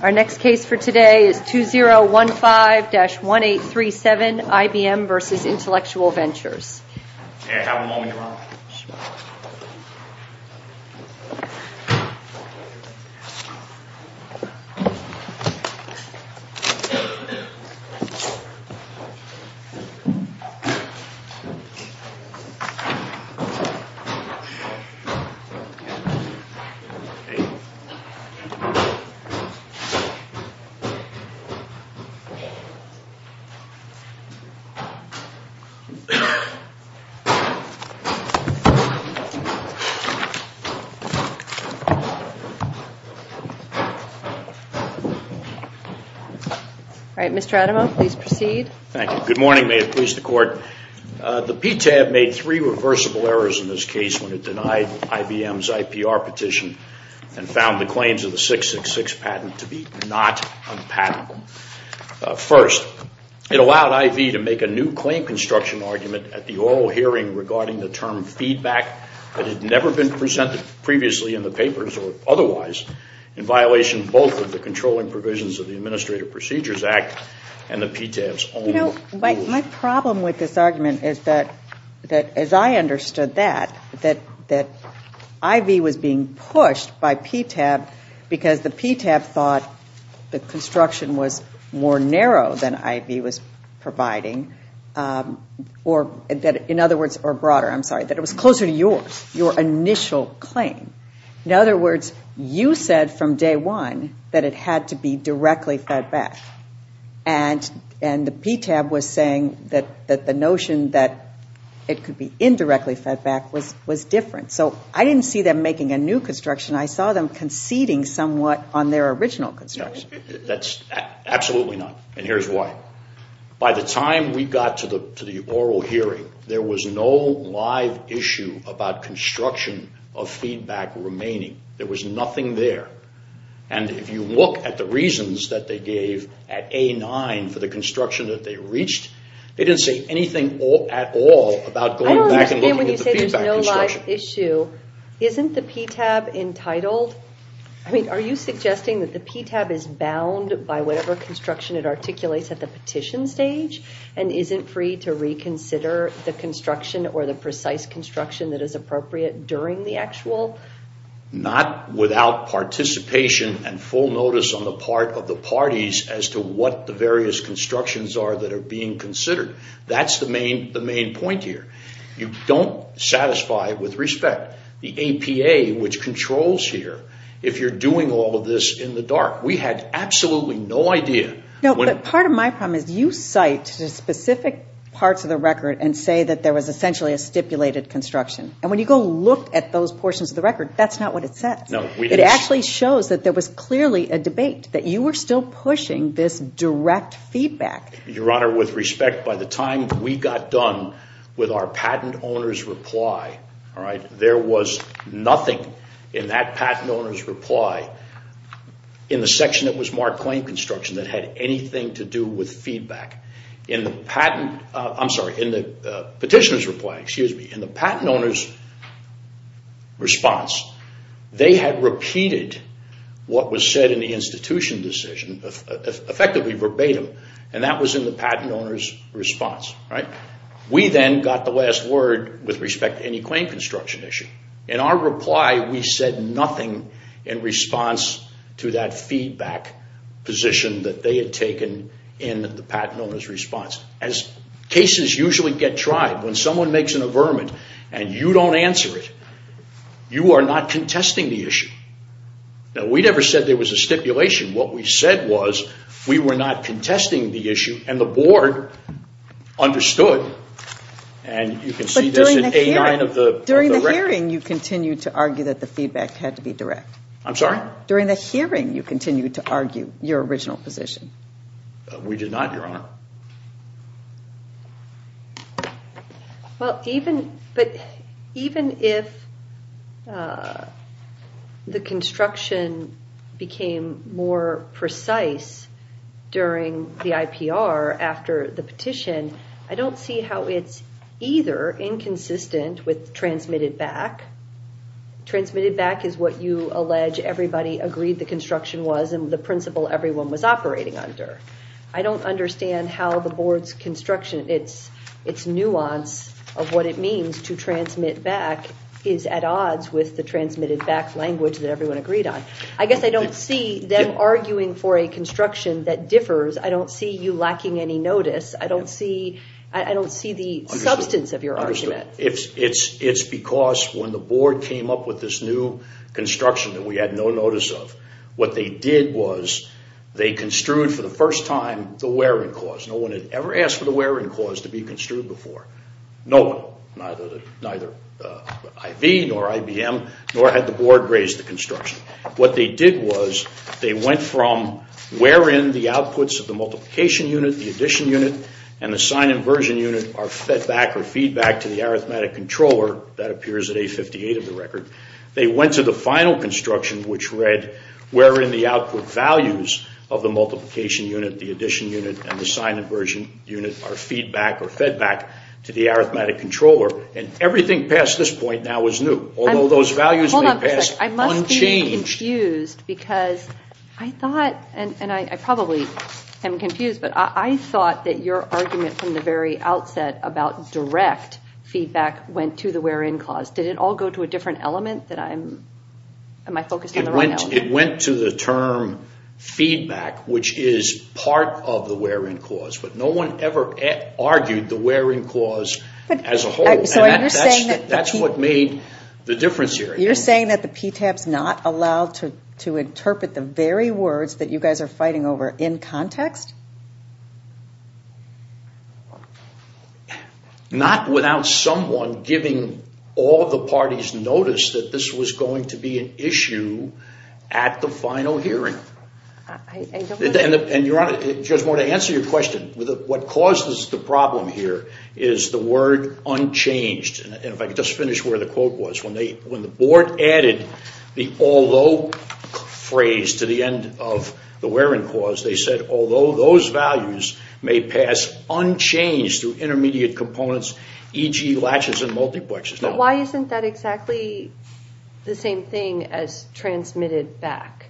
Our next case for today is 2015-1837 IBM v. Intellectual Ventures. This is a 2015-1837 IBM v. Intellectual Ventures. The PTAB made three reversible errors in this case when it denied IBM's IPR petition and found the claims of the 666 patent to be not unpatentable. First, it allowed IV to make a new claim construction argument at the oral hearing regarding the both of the controlling provisions of the Administrative Procedures Act and the PTAB's own rules. You know, my problem with this argument is that, as I understood that, that IV was being pushed by PTAB because the PTAB thought the construction was more narrow than IV was providing, or in other words, or broader, I'm sorry, that it was closer to yours, your initial claim. In other words, you said from day one that it had to be directly fed back. And the PTAB was saying that the notion that it could be indirectly fed back was different. So I didn't see them making a new construction. I saw them conceding somewhat on their original construction. That's absolutely not, and here's why. By the time we got to the oral hearing, there was no live issue about construction of feedback remaining. There was nothing there. And if you look at the reasons that they gave at A-9 for the construction that they reached, they didn't say anything at all about going back and looking at the feedback construction. I don't understand when you say there's no live issue. Isn't the PTAB entitled, I mean, are you suggesting that the PTAB is bound by whatever construction it articulates at the petition stage and isn't free to reconsider the construction or the Not without participation and full notice on the part of the parties as to what the various constructions are that are being considered. That's the main point here. You don't satisfy with respect the APA, which controls here, if you're doing all of this in the dark. We had absolutely no idea. Part of my problem is you cite specific parts of the record and say that there was essentially a stipulated construction. And when you go look at those portions of the record, that's not what it says. It actually shows that there was clearly a debate, that you were still pushing this direct feedback. Your Honor, with respect, by the time we got done with our patent owner's reply, all right, there was nothing in that patent owner's reply in the section that was marked claim construction that had anything to do with feedback. In the patent, I'm sorry, in the petitioner's reply, excuse me, in the patent owner's response, they had repeated what was said in the institution decision, effectively verbatim, and that was in the patent owner's response. We then got the last word with respect to any claim construction issue. In our reply, we said nothing in response to that feedback position that they had taken in the patent owner's response. As cases usually get tried, when someone makes an averment and you don't answer it, you are not contesting the issue. Now, we never said there was a stipulation. What we said was we were not contesting the issue, and the Board understood. And you can see this in A9 of the record. During the hearing, you continued to argue that the feedback had to be direct. I'm sorry? During the hearing, you continued to argue your original position. We did not, Your Honor. Well, even if the construction became more precise during the IPR after the petition, I don't see how it's either inconsistent with transmitted back. Transmitted back is what you allege everybody agreed the construction was and the principle everyone was operating under. I don't understand how the Board's construction, its nuance of what it means to transmit back, is at odds with the transmitted back language that everyone agreed on. I guess I don't see them arguing for a construction that differs. I don't see you lacking any notice. I don't see the substance of your argument. It's because when the Board came up with this new construction that we had no notice of, what they did was they construed for the first time the wear-in clause. No one had ever asked for the wear-in clause to be construed before. No one, neither IV nor IBM, nor had the Board raised the construction. What they did was they went from where in the outputs of the multiplication unit, the arithmetic controller, that appears at A58 of the record, they went to the final construction which read where in the output values of the multiplication unit, the addition unit, and the sign inversion unit are feedback or fed back to the arithmetic controller. Everything past this point now is new, although those values may pass unchanged. I must be confused because I thought, and I probably am confused, but I thought that your argument from the very outset about direct feedback went to the wear-in clause. Did it all go to a different element? Am I focusing on the wrong element? It went to the term feedback, which is part of the wear-in clause, but no one ever argued the wear-in clause as a whole. That's what made the difference here. You're saying that the PTAB is not allowed to interpret the very words that you guys are fighting over in context? Not without someone giving all of the parties notice that this was going to be an issue at the final hearing. I don't understand. And your Honor, just want to answer your question. What causes the problem here is the word unchanged, and if I could just finish where the quote was. When the Board added the although phrase to the end of the wear-in clause, they said although those values may pass unchanged through intermediate components, e.g. latches and multiplexes. Why isn't that exactly the same thing as transmitted back?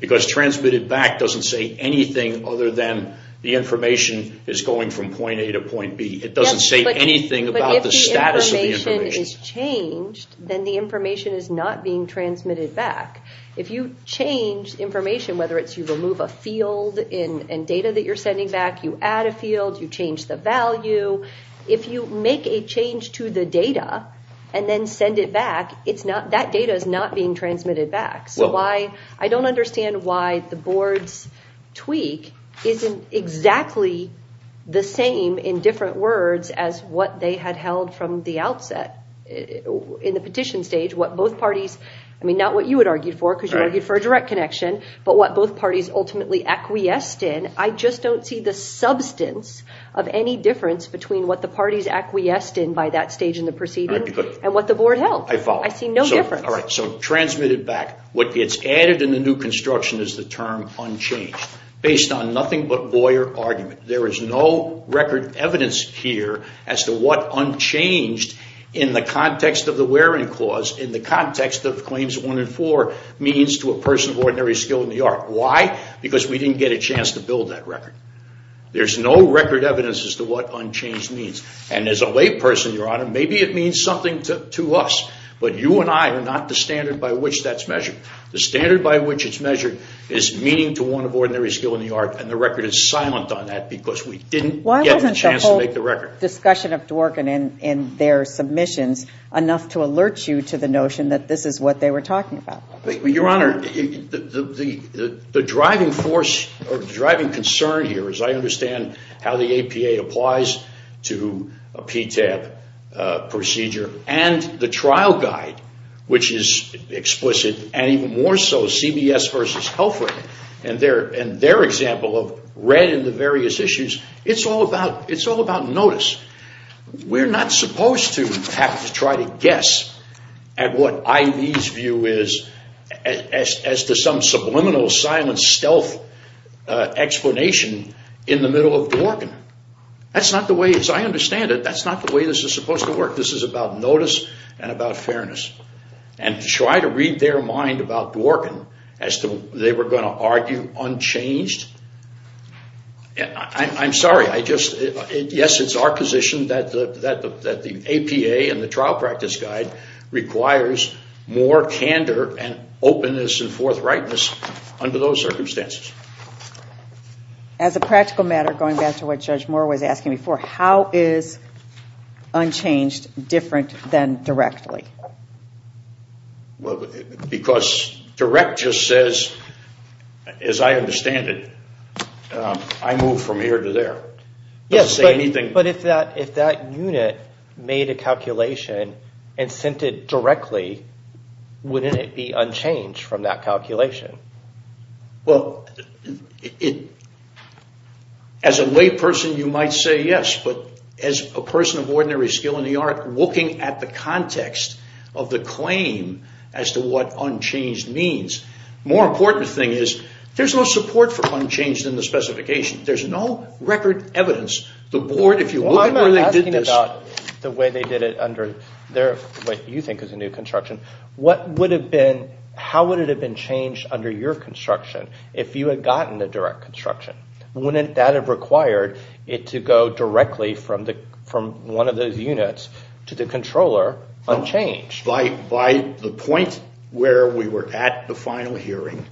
Because transmitted back doesn't say anything other than the information is going from point A to point B. It doesn't say anything about the status of the information. But if the information is changed, then the information is not being transmitted back. If you change information, whether it's you remove a field and data that you're sending back, you add a field, you change the value. If you make a change to the data and then send it back, that data is not being transmitted back. So I don't understand why the Board's tweak isn't exactly the same in different words as what they had held from the outset in the petition stage, what both parties, I mean not what you had argued for because you argued for a direct connection, but what both parties ultimately acquiesced in. I just don't see the substance of any difference between what the parties acquiesced in by that stage in the proceeding and what the Board held. I follow. I see no difference. All right. So transmitted back. What gets added in the new construction is the term unchanged based on nothing but Boyer argument. There is no record evidence here as to what unchanged in the context of the Waring Clause, in the context of Claims 1 and 4 means to a person of ordinary skill in the art. Why? Because we didn't get a chance to build that record. There's no record evidence as to what unchanged means. And as a layperson, Your Honor, maybe it means something to us. But you and I are not the standard by which that's measured. The standard by which it's measured is meaning to one of ordinary skill in the art and the record is silent on that because we didn't get a chance to make the record. Why wasn't the whole discussion of Dworkin in their submissions enough to alert you to the notion that this is what they were talking about? Your Honor, the driving force or driving concern here is I understand how the APA applies to a PTAB procedure and the trial guide, which is explicit and even more so CBS vs. Health Red and their example of Red and the various issues. It's all about notice. We're not supposed to have to try to guess at what IV's view is as to some subliminal silent stealth explanation in the middle of Dworkin. That's not the way, as I understand it, that's not the way this is supposed to work. This is about notice and about fairness. And to try to read their mind about Dworkin as to they were going to argue unchanged? I'm sorry, yes, it's our position that the APA and the trial practice guide requires more candor and openness and forthrightness under those circumstances. As a practical matter, going back to what Judge Moore was asking before, how is unchanged different than directly? Because direct just says, as I understand it, I move from here to there. But if that unit made a calculation and sent it directly, wouldn't it be unchanged from that calculation? Well, as a layperson, you might say yes, but as a person of ordinary skill in the art, looking at the context of the claim as to what unchanged means, the more important thing is there's no support for unchanged in the specification. There's no record evidence. The board, if you look at where they did this... I'm asking about the way they did it under what you think is a new construction. How would it have been changed under your construction if you had gotten the direct construction? Wouldn't that have required it to go directly from one of those units to the controller unchanged? By the point where we were at the final hearing,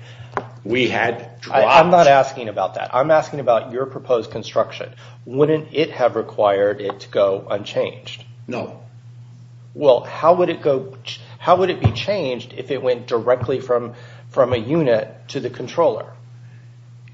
we had dropped... I'm not asking about that. I'm asking about your proposed construction. Wouldn't it have required it to go unchanged? No. Well, how would it be changed if it went directly from a unit to the controller?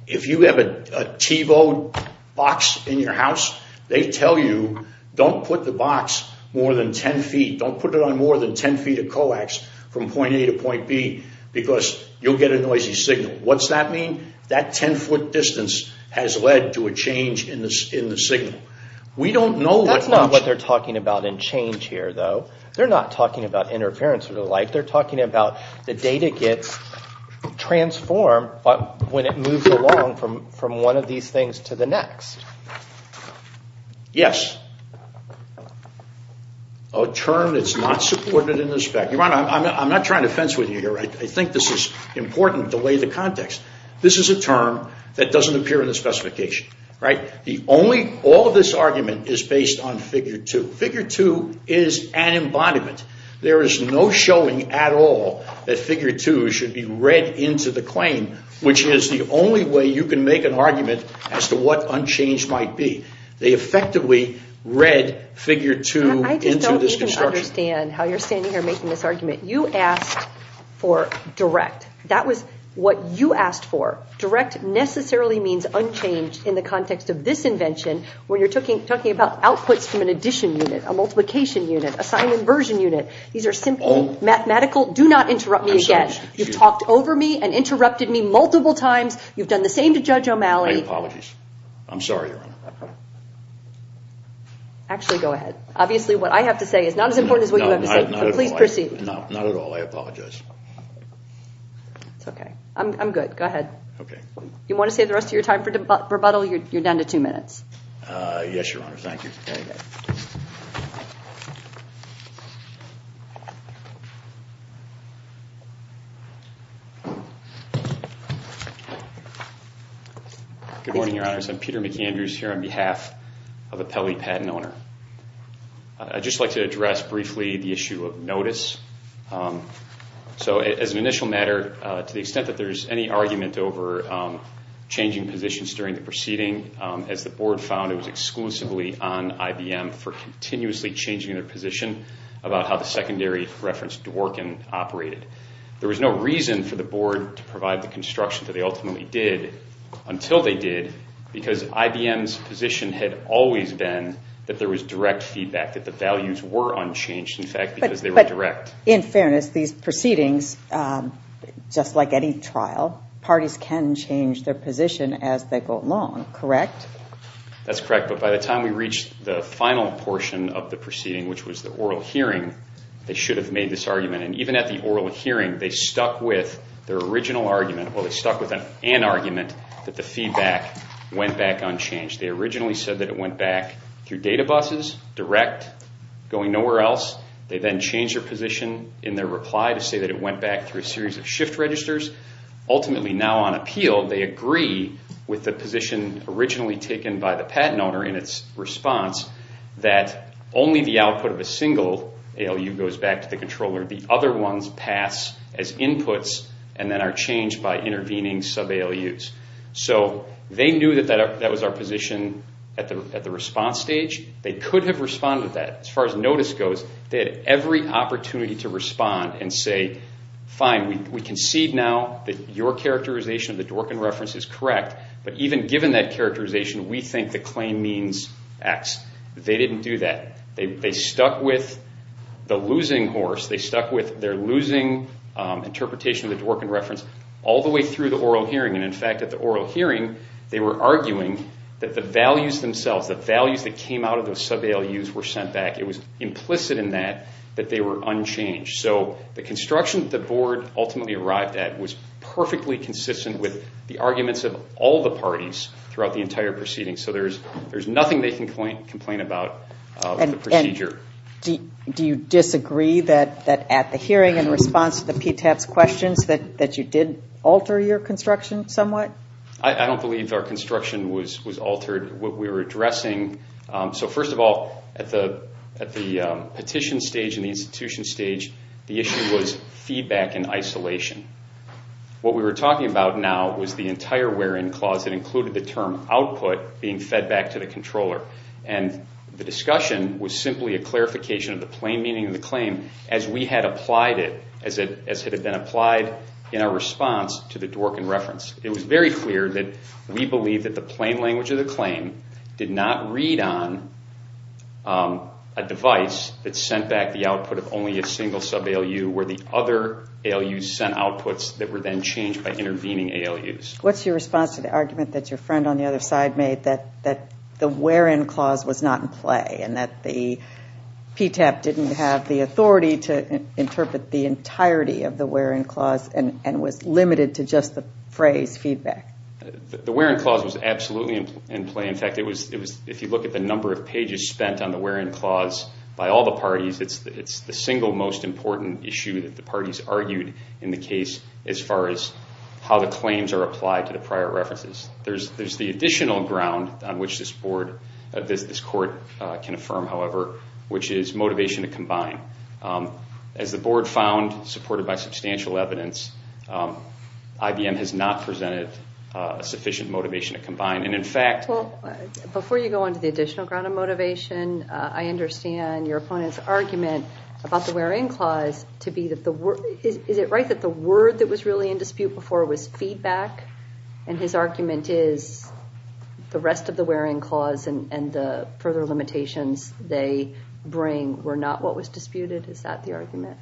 If you have a TiVo box in your house, they tell you don't put the box more than 10 feet. Don't put it on more than 10 feet of coax from point A to point B because you'll get a noisy signal. What's that mean? That 10 foot distance has led to a change in the signal. We don't know what... They're not talking about interference or the like. They're talking about the data gets transformed when it moves along from one of these things to the next. Yes. A term that's not supported in the spec. I'm not trying to fence with you here. I think this is important to lay the context. This is a term that doesn't appear in the specification. All of this argument is based on figure two. Figure two is an embodiment. There is no showing at all that figure two should be read into the claim, which is the only way you can make an argument as to what unchanged might be. They effectively read figure two into this construction. I just don't even understand how you're standing here making this argument. You asked for direct. That was what you asked for. Direct necessarily means unchanged in the context of this invention where you're talking about outputs from an addition unit, a multiplication unit, a sign inversion unit. These are simple mathematical... Do not interrupt me again. You've talked over me and interrupted me multiple times. You've done the same to Judge O'Malley. I apologize. I'm sorry, Your Honor. Actually, go ahead. Obviously, what I have to say is not as important as what you have to say, but please proceed. No, not at all. I apologize. It's okay. I'm good. Go ahead. You want to save the rest of your time for rebuttal? You're down to two minutes. Yes, Your Honor. Thank you. Thank you. Very good. Good morning, Your Honors. I'm Peter McAndrews here on behalf of the Pelley Patent Owner. I'd just like to address briefly the issue of notice. So as an initial matter, to the extent that there's any argument over changing positions during the proceeding, as the board found, it was exclusively on IBM for continuously changing their position about how the secondary reference Dworkin operated. There was no reason for the board to provide the construction that they ultimately did until they did, because IBM's position had always been that there was direct feedback, that the values were unchanged, in fact, because they were direct. In fairness, these proceedings, just like any trial, parties can change their position as they go along, correct? That's correct. But by the time we reached the final portion of the proceeding, which was the oral hearing, they should have made this argument. And even at the oral hearing, they stuck with their original argument, well, they stuck with an argument that the feedback went back unchanged. They originally said that it went back through data buses, direct, going nowhere else. They then changed their position in their reply to say that it went back through a series of shift registers. Ultimately, now on appeal, they agree with the position originally taken by the patent owner in its response that only the output of a single ALU goes back to the controller. The other ones pass as inputs and then are changed by intervening sub-ALUs. So they knew that that was our position at the response stage. They could have responded to that. As far as notice goes, they had every opportunity to respond and say, fine, we concede now. Your characterization of the Dworkin reference is correct. But even given that characterization, we think the claim means X. They didn't do that. They stuck with the losing horse. They stuck with their losing interpretation of the Dworkin reference all the way through the oral hearing. And in fact, at the oral hearing, they were arguing that the values themselves, the values that came out of those sub-ALUs were sent back. It was implicit in that that they were unchanged. So the construction that the board ultimately arrived at was perfectly consistent with the arguments of all the parties throughout the entire proceeding. So there's nothing they can complain about with the procedure. Do you disagree that at the hearing in response to the PTAP's questions that you did alter your construction somewhat? I don't believe our construction was altered. What we were addressing, so first of all, at the petition stage and the institution stage, the issue was feedback and isolation. What we were talking about now was the entire wear-in clause that included the term output being fed back to the controller. And the discussion was simply a clarification of the plain meaning of the claim as we had applied it, as it had been applied in our response to the Dworkin reference. It was very clear that we believed that the plain language of the claim did not read on a device that sent back the output of only a single sub-ALU where the other ALUs sent outputs that were then changed by intervening ALUs. What's your response to the argument that your friend on the other side made that the wear-in clause was not in play and that the PTAP didn't have the authority to interpret the entirety of the wear-in clause and was limited to just the phrase feedback? The wear-in clause was absolutely in play. In fact, if you look at the number of pages spent on the wear-in clause by all the parties, it's the single most important issue that the parties argued in the case as far as how the claims are applied to the prior references. There's the additional ground on which this court can affirm, however, which is motivation to combine. As the board found, supported by substantial evidence, IBM has not presented a sufficient motivation to combine. And in fact... Well, before you go on to the additional ground on motivation, I understand your opponent's argument about the wear-in clause to be that the... Is it right that the word that was really in dispute before was feedback? And his argument is the rest of the wear-in clause and the further limitations they bring were not what was disputed? Is that the argument?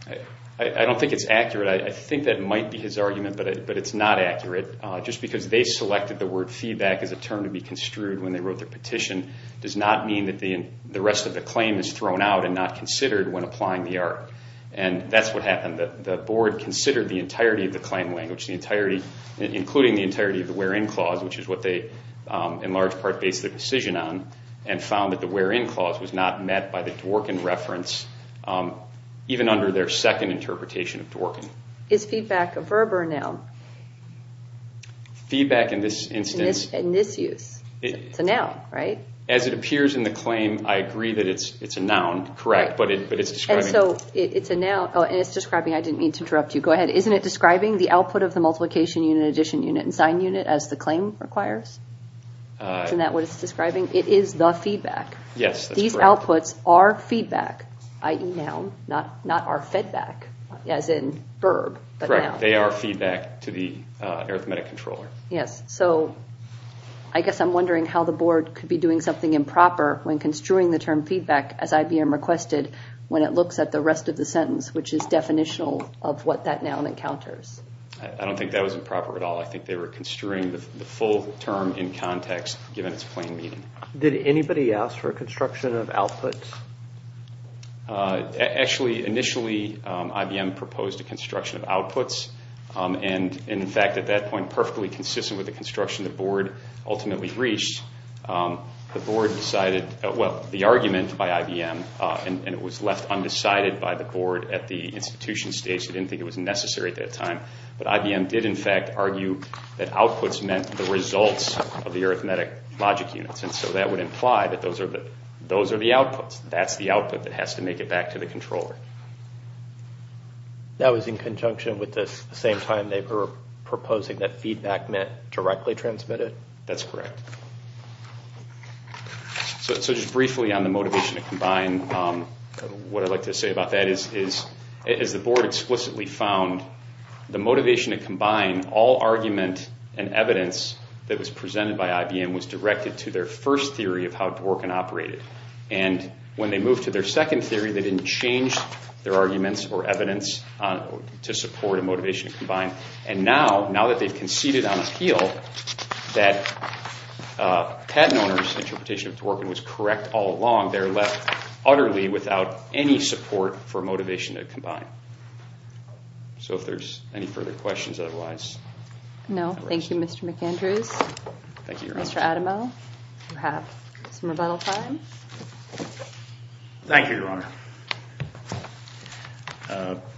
I don't think it's accurate. I think that might be his argument, but it's not accurate. Just because they selected the word feedback as a term to be construed when they wrote their petition does not mean that the rest of the claim is thrown out and not considered when applying the art. And that's what happened. The board considered the entirety of the claim language, including the entirety of the wear-in clause, which is what they in large part based their decision on, and found that the wear-in reference, even under their second interpretation of Dworkin. Is feedback a verb or a noun? Feedback in this instance... In this use. It's a noun, right? As it appears in the claim, I agree that it's a noun, correct, but it's describing... And so, it's a noun, and it's describing, I didn't mean to interrupt you, go ahead. Isn't it describing the output of the multiplication unit, addition unit, and sign unit as the claim requires? Isn't that what it's describing? It is the feedback. Yes, that's correct. So, the outputs are feedback, i.e. noun, not are fed back, as in verb, but noun. Correct. They are feedback to the arithmetic controller. Yes. So, I guess I'm wondering how the board could be doing something improper when construing the term feedback, as IBM requested, when it looks at the rest of the sentence, which is definitional of what that noun encounters. I don't think that was improper at all. I think they were construing the full term in context, given its plain meaning. Did anybody ask for a construction of outputs? Actually, initially, IBM proposed a construction of outputs, and in fact, at that point, perfectly consistent with the construction the board ultimately reached, the board decided, well, the argument by IBM, and it was left undecided by the board at the institution stage, they didn't think it was necessary at that time, but IBM did in fact argue that outputs meant the results of the arithmetic logic units, and so that would imply that those are the outputs. That's the output that has to make it back to the controller. That was in conjunction with this, the same time they were proposing that feedback meant directly transmitted? That's correct. So, just briefly on the motivation to combine, what I'd like to say about that is the board explicitly found the motivation to combine all argument and evidence that was presented by IBM was directed to their first theory of how Dworkin operated, and when they moved to their second theory, they didn't change their arguments or evidence to support a motivation to combine, and now, now that they've conceded on appeal that patent owner's interpretation of Dworkin was correct all along, they're left utterly without any support for motivation to combine. So, if there's any further questions, otherwise... No, thank you, Mr. McAndrews. Thank you, Your Honor. Mr. Adamo, you have some rebuttal time. Thank you, Your Honor.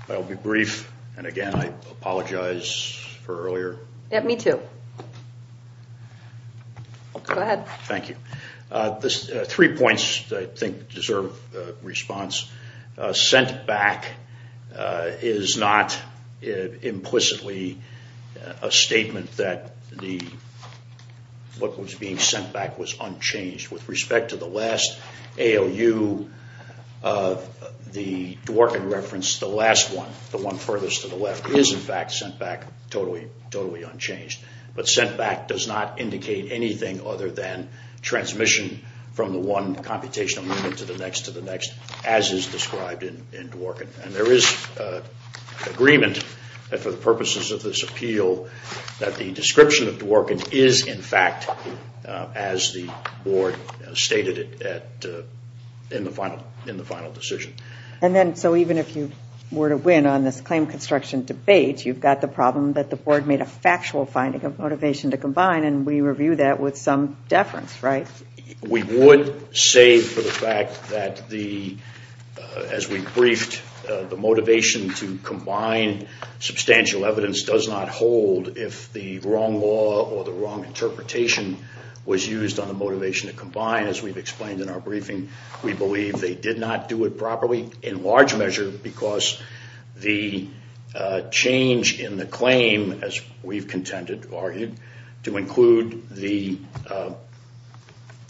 I'll be brief, and again, I apologize for earlier. Yeah, me too. Go ahead. Thank you. Three points I think deserve response. Sent back is not implicitly a statement that what was being sent back was unchanged. With respect to the last ALU, the Dworkin reference, the last one, the one furthest to the left, is in fact sent back totally, totally unchanged, but sent back does not have an omission from the one computational unit to the next, to the next, as is described in Dworkin. And there is agreement that for the purposes of this appeal, that the description of Dworkin is in fact as the board stated in the final decision. And then, so even if you were to win on this claim construction debate, you've got the problem that the board made a factual finding of motivation to combine, and we review that with some deference, right? We would say for the fact that the, as we briefed, the motivation to combine substantial evidence does not hold if the wrong law or the wrong interpretation was used on the motivation to combine. As we've explained in our briefing, we believe they did not do it properly in large measure because the change in the claim, as we've contended, argued, to include the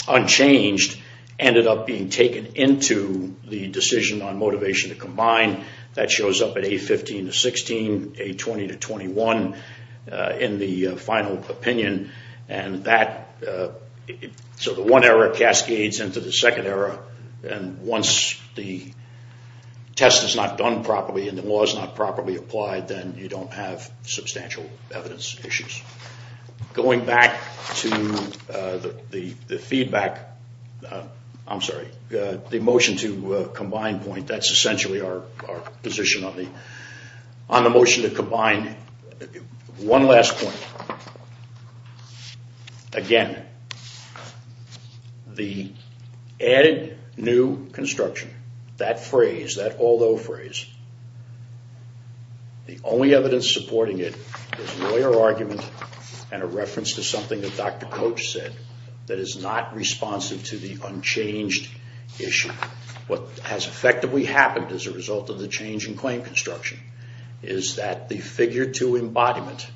unchanged ended up being taken into the decision on motivation to combine. That shows up at A15 to 16, A20 to 21 in the final opinion, and that, so the one error if it's not done properly and the law's not properly applied, then you don't have substantial evidence issues. Going back to the feedback, I'm sorry, the motion to combine point, that's essentially One last point. Again, the added new construction, that phrase, that although phrase, the only evidence supporting it is a lawyer argument and a reference to something that Dr. Coach said that is not responsive to the unchanged issue. What has effectively happened as a result of the change in claim construction is that the figure two embodiment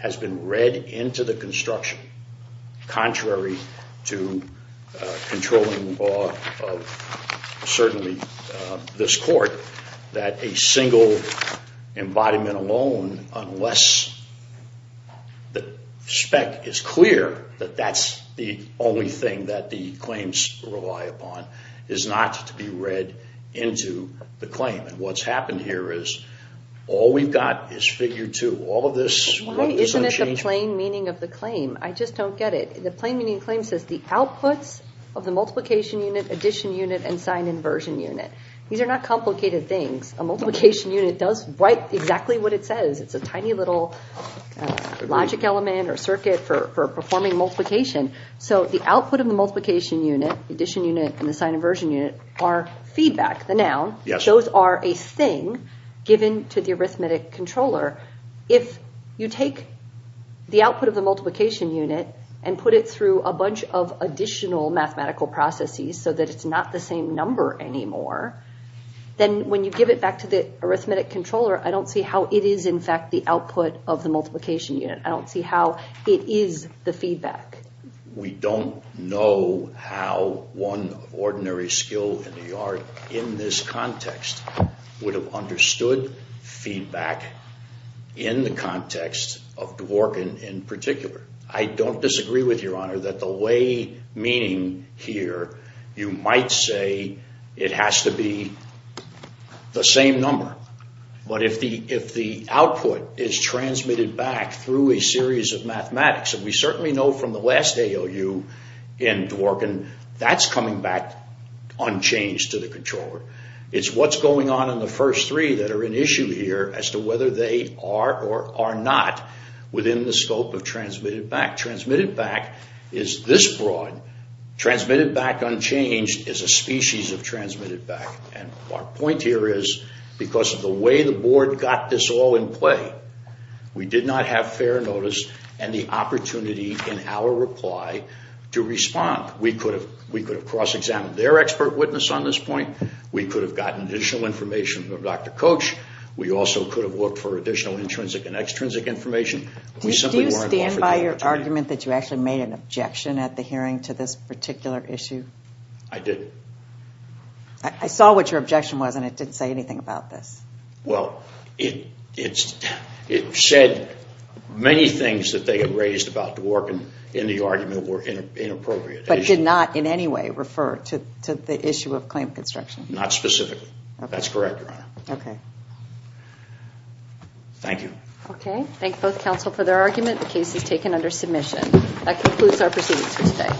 has been read into the construction, contrary to controlling law of certainly this court, that a single embodiment alone, unless the spec is clear that that's the only thing that the claims rely upon, is not to be read into the claim. What's happened here is all we've got is figure two. Why isn't it the plain meaning of the claim? I just don't get it. The plain meaning of the claim says the outputs of the multiplication unit, addition unit and sign inversion unit. These are not complicated things. A multiplication unit does write exactly what it says. It's a tiny little logic element or circuit for performing multiplication. So the output of the multiplication unit, addition unit and the sign inversion unit are feedback, the noun. Those are a thing given to the arithmetic controller. If you take the output of the multiplication unit and put it through a bunch of additional mathematical processes so that it's not the same number anymore, then when you give it back to the arithmetic controller, I don't see how it is in fact the output of the multiplication I don't see how it is the feedback. We don't know how one ordinary skill in the art in this context would have understood feedback in the context of Dworkin in particular. I don't disagree with your honor that the way meaning here, you might say it has to be the same number. But if the output is transmitted back through a series of mathematics, and we certainly know from the last AOU in Dworkin, that's coming back unchanged to the controller. It's what's going on in the first three that are an issue here as to whether they are or are not within the scope of transmitted back. Transmitted back is this broad. Transmitted back unchanged is a species of transmitted back. Our point here is because of the way the board got this all in play, we did not have fair notice and the opportunity in our reply to respond. We could have cross-examined their expert witness on this point. We could have gotten additional information from Dr. Koch. We also could have looked for additional intrinsic and extrinsic information. Do you stand by your argument that you actually made an objection at the hearing to this particular issue? I did. I saw what your objection was and it didn't say anything about this. Well, it said many things that they had raised about Dworkin in the argument were inappropriate. But did not in any way refer to the issue of claim construction? Not specifically. That's correct, Your Honor. Okay. Thank you. Okay. Thank both counsel for their argument. The case is taken under submission. That concludes our proceedings for today.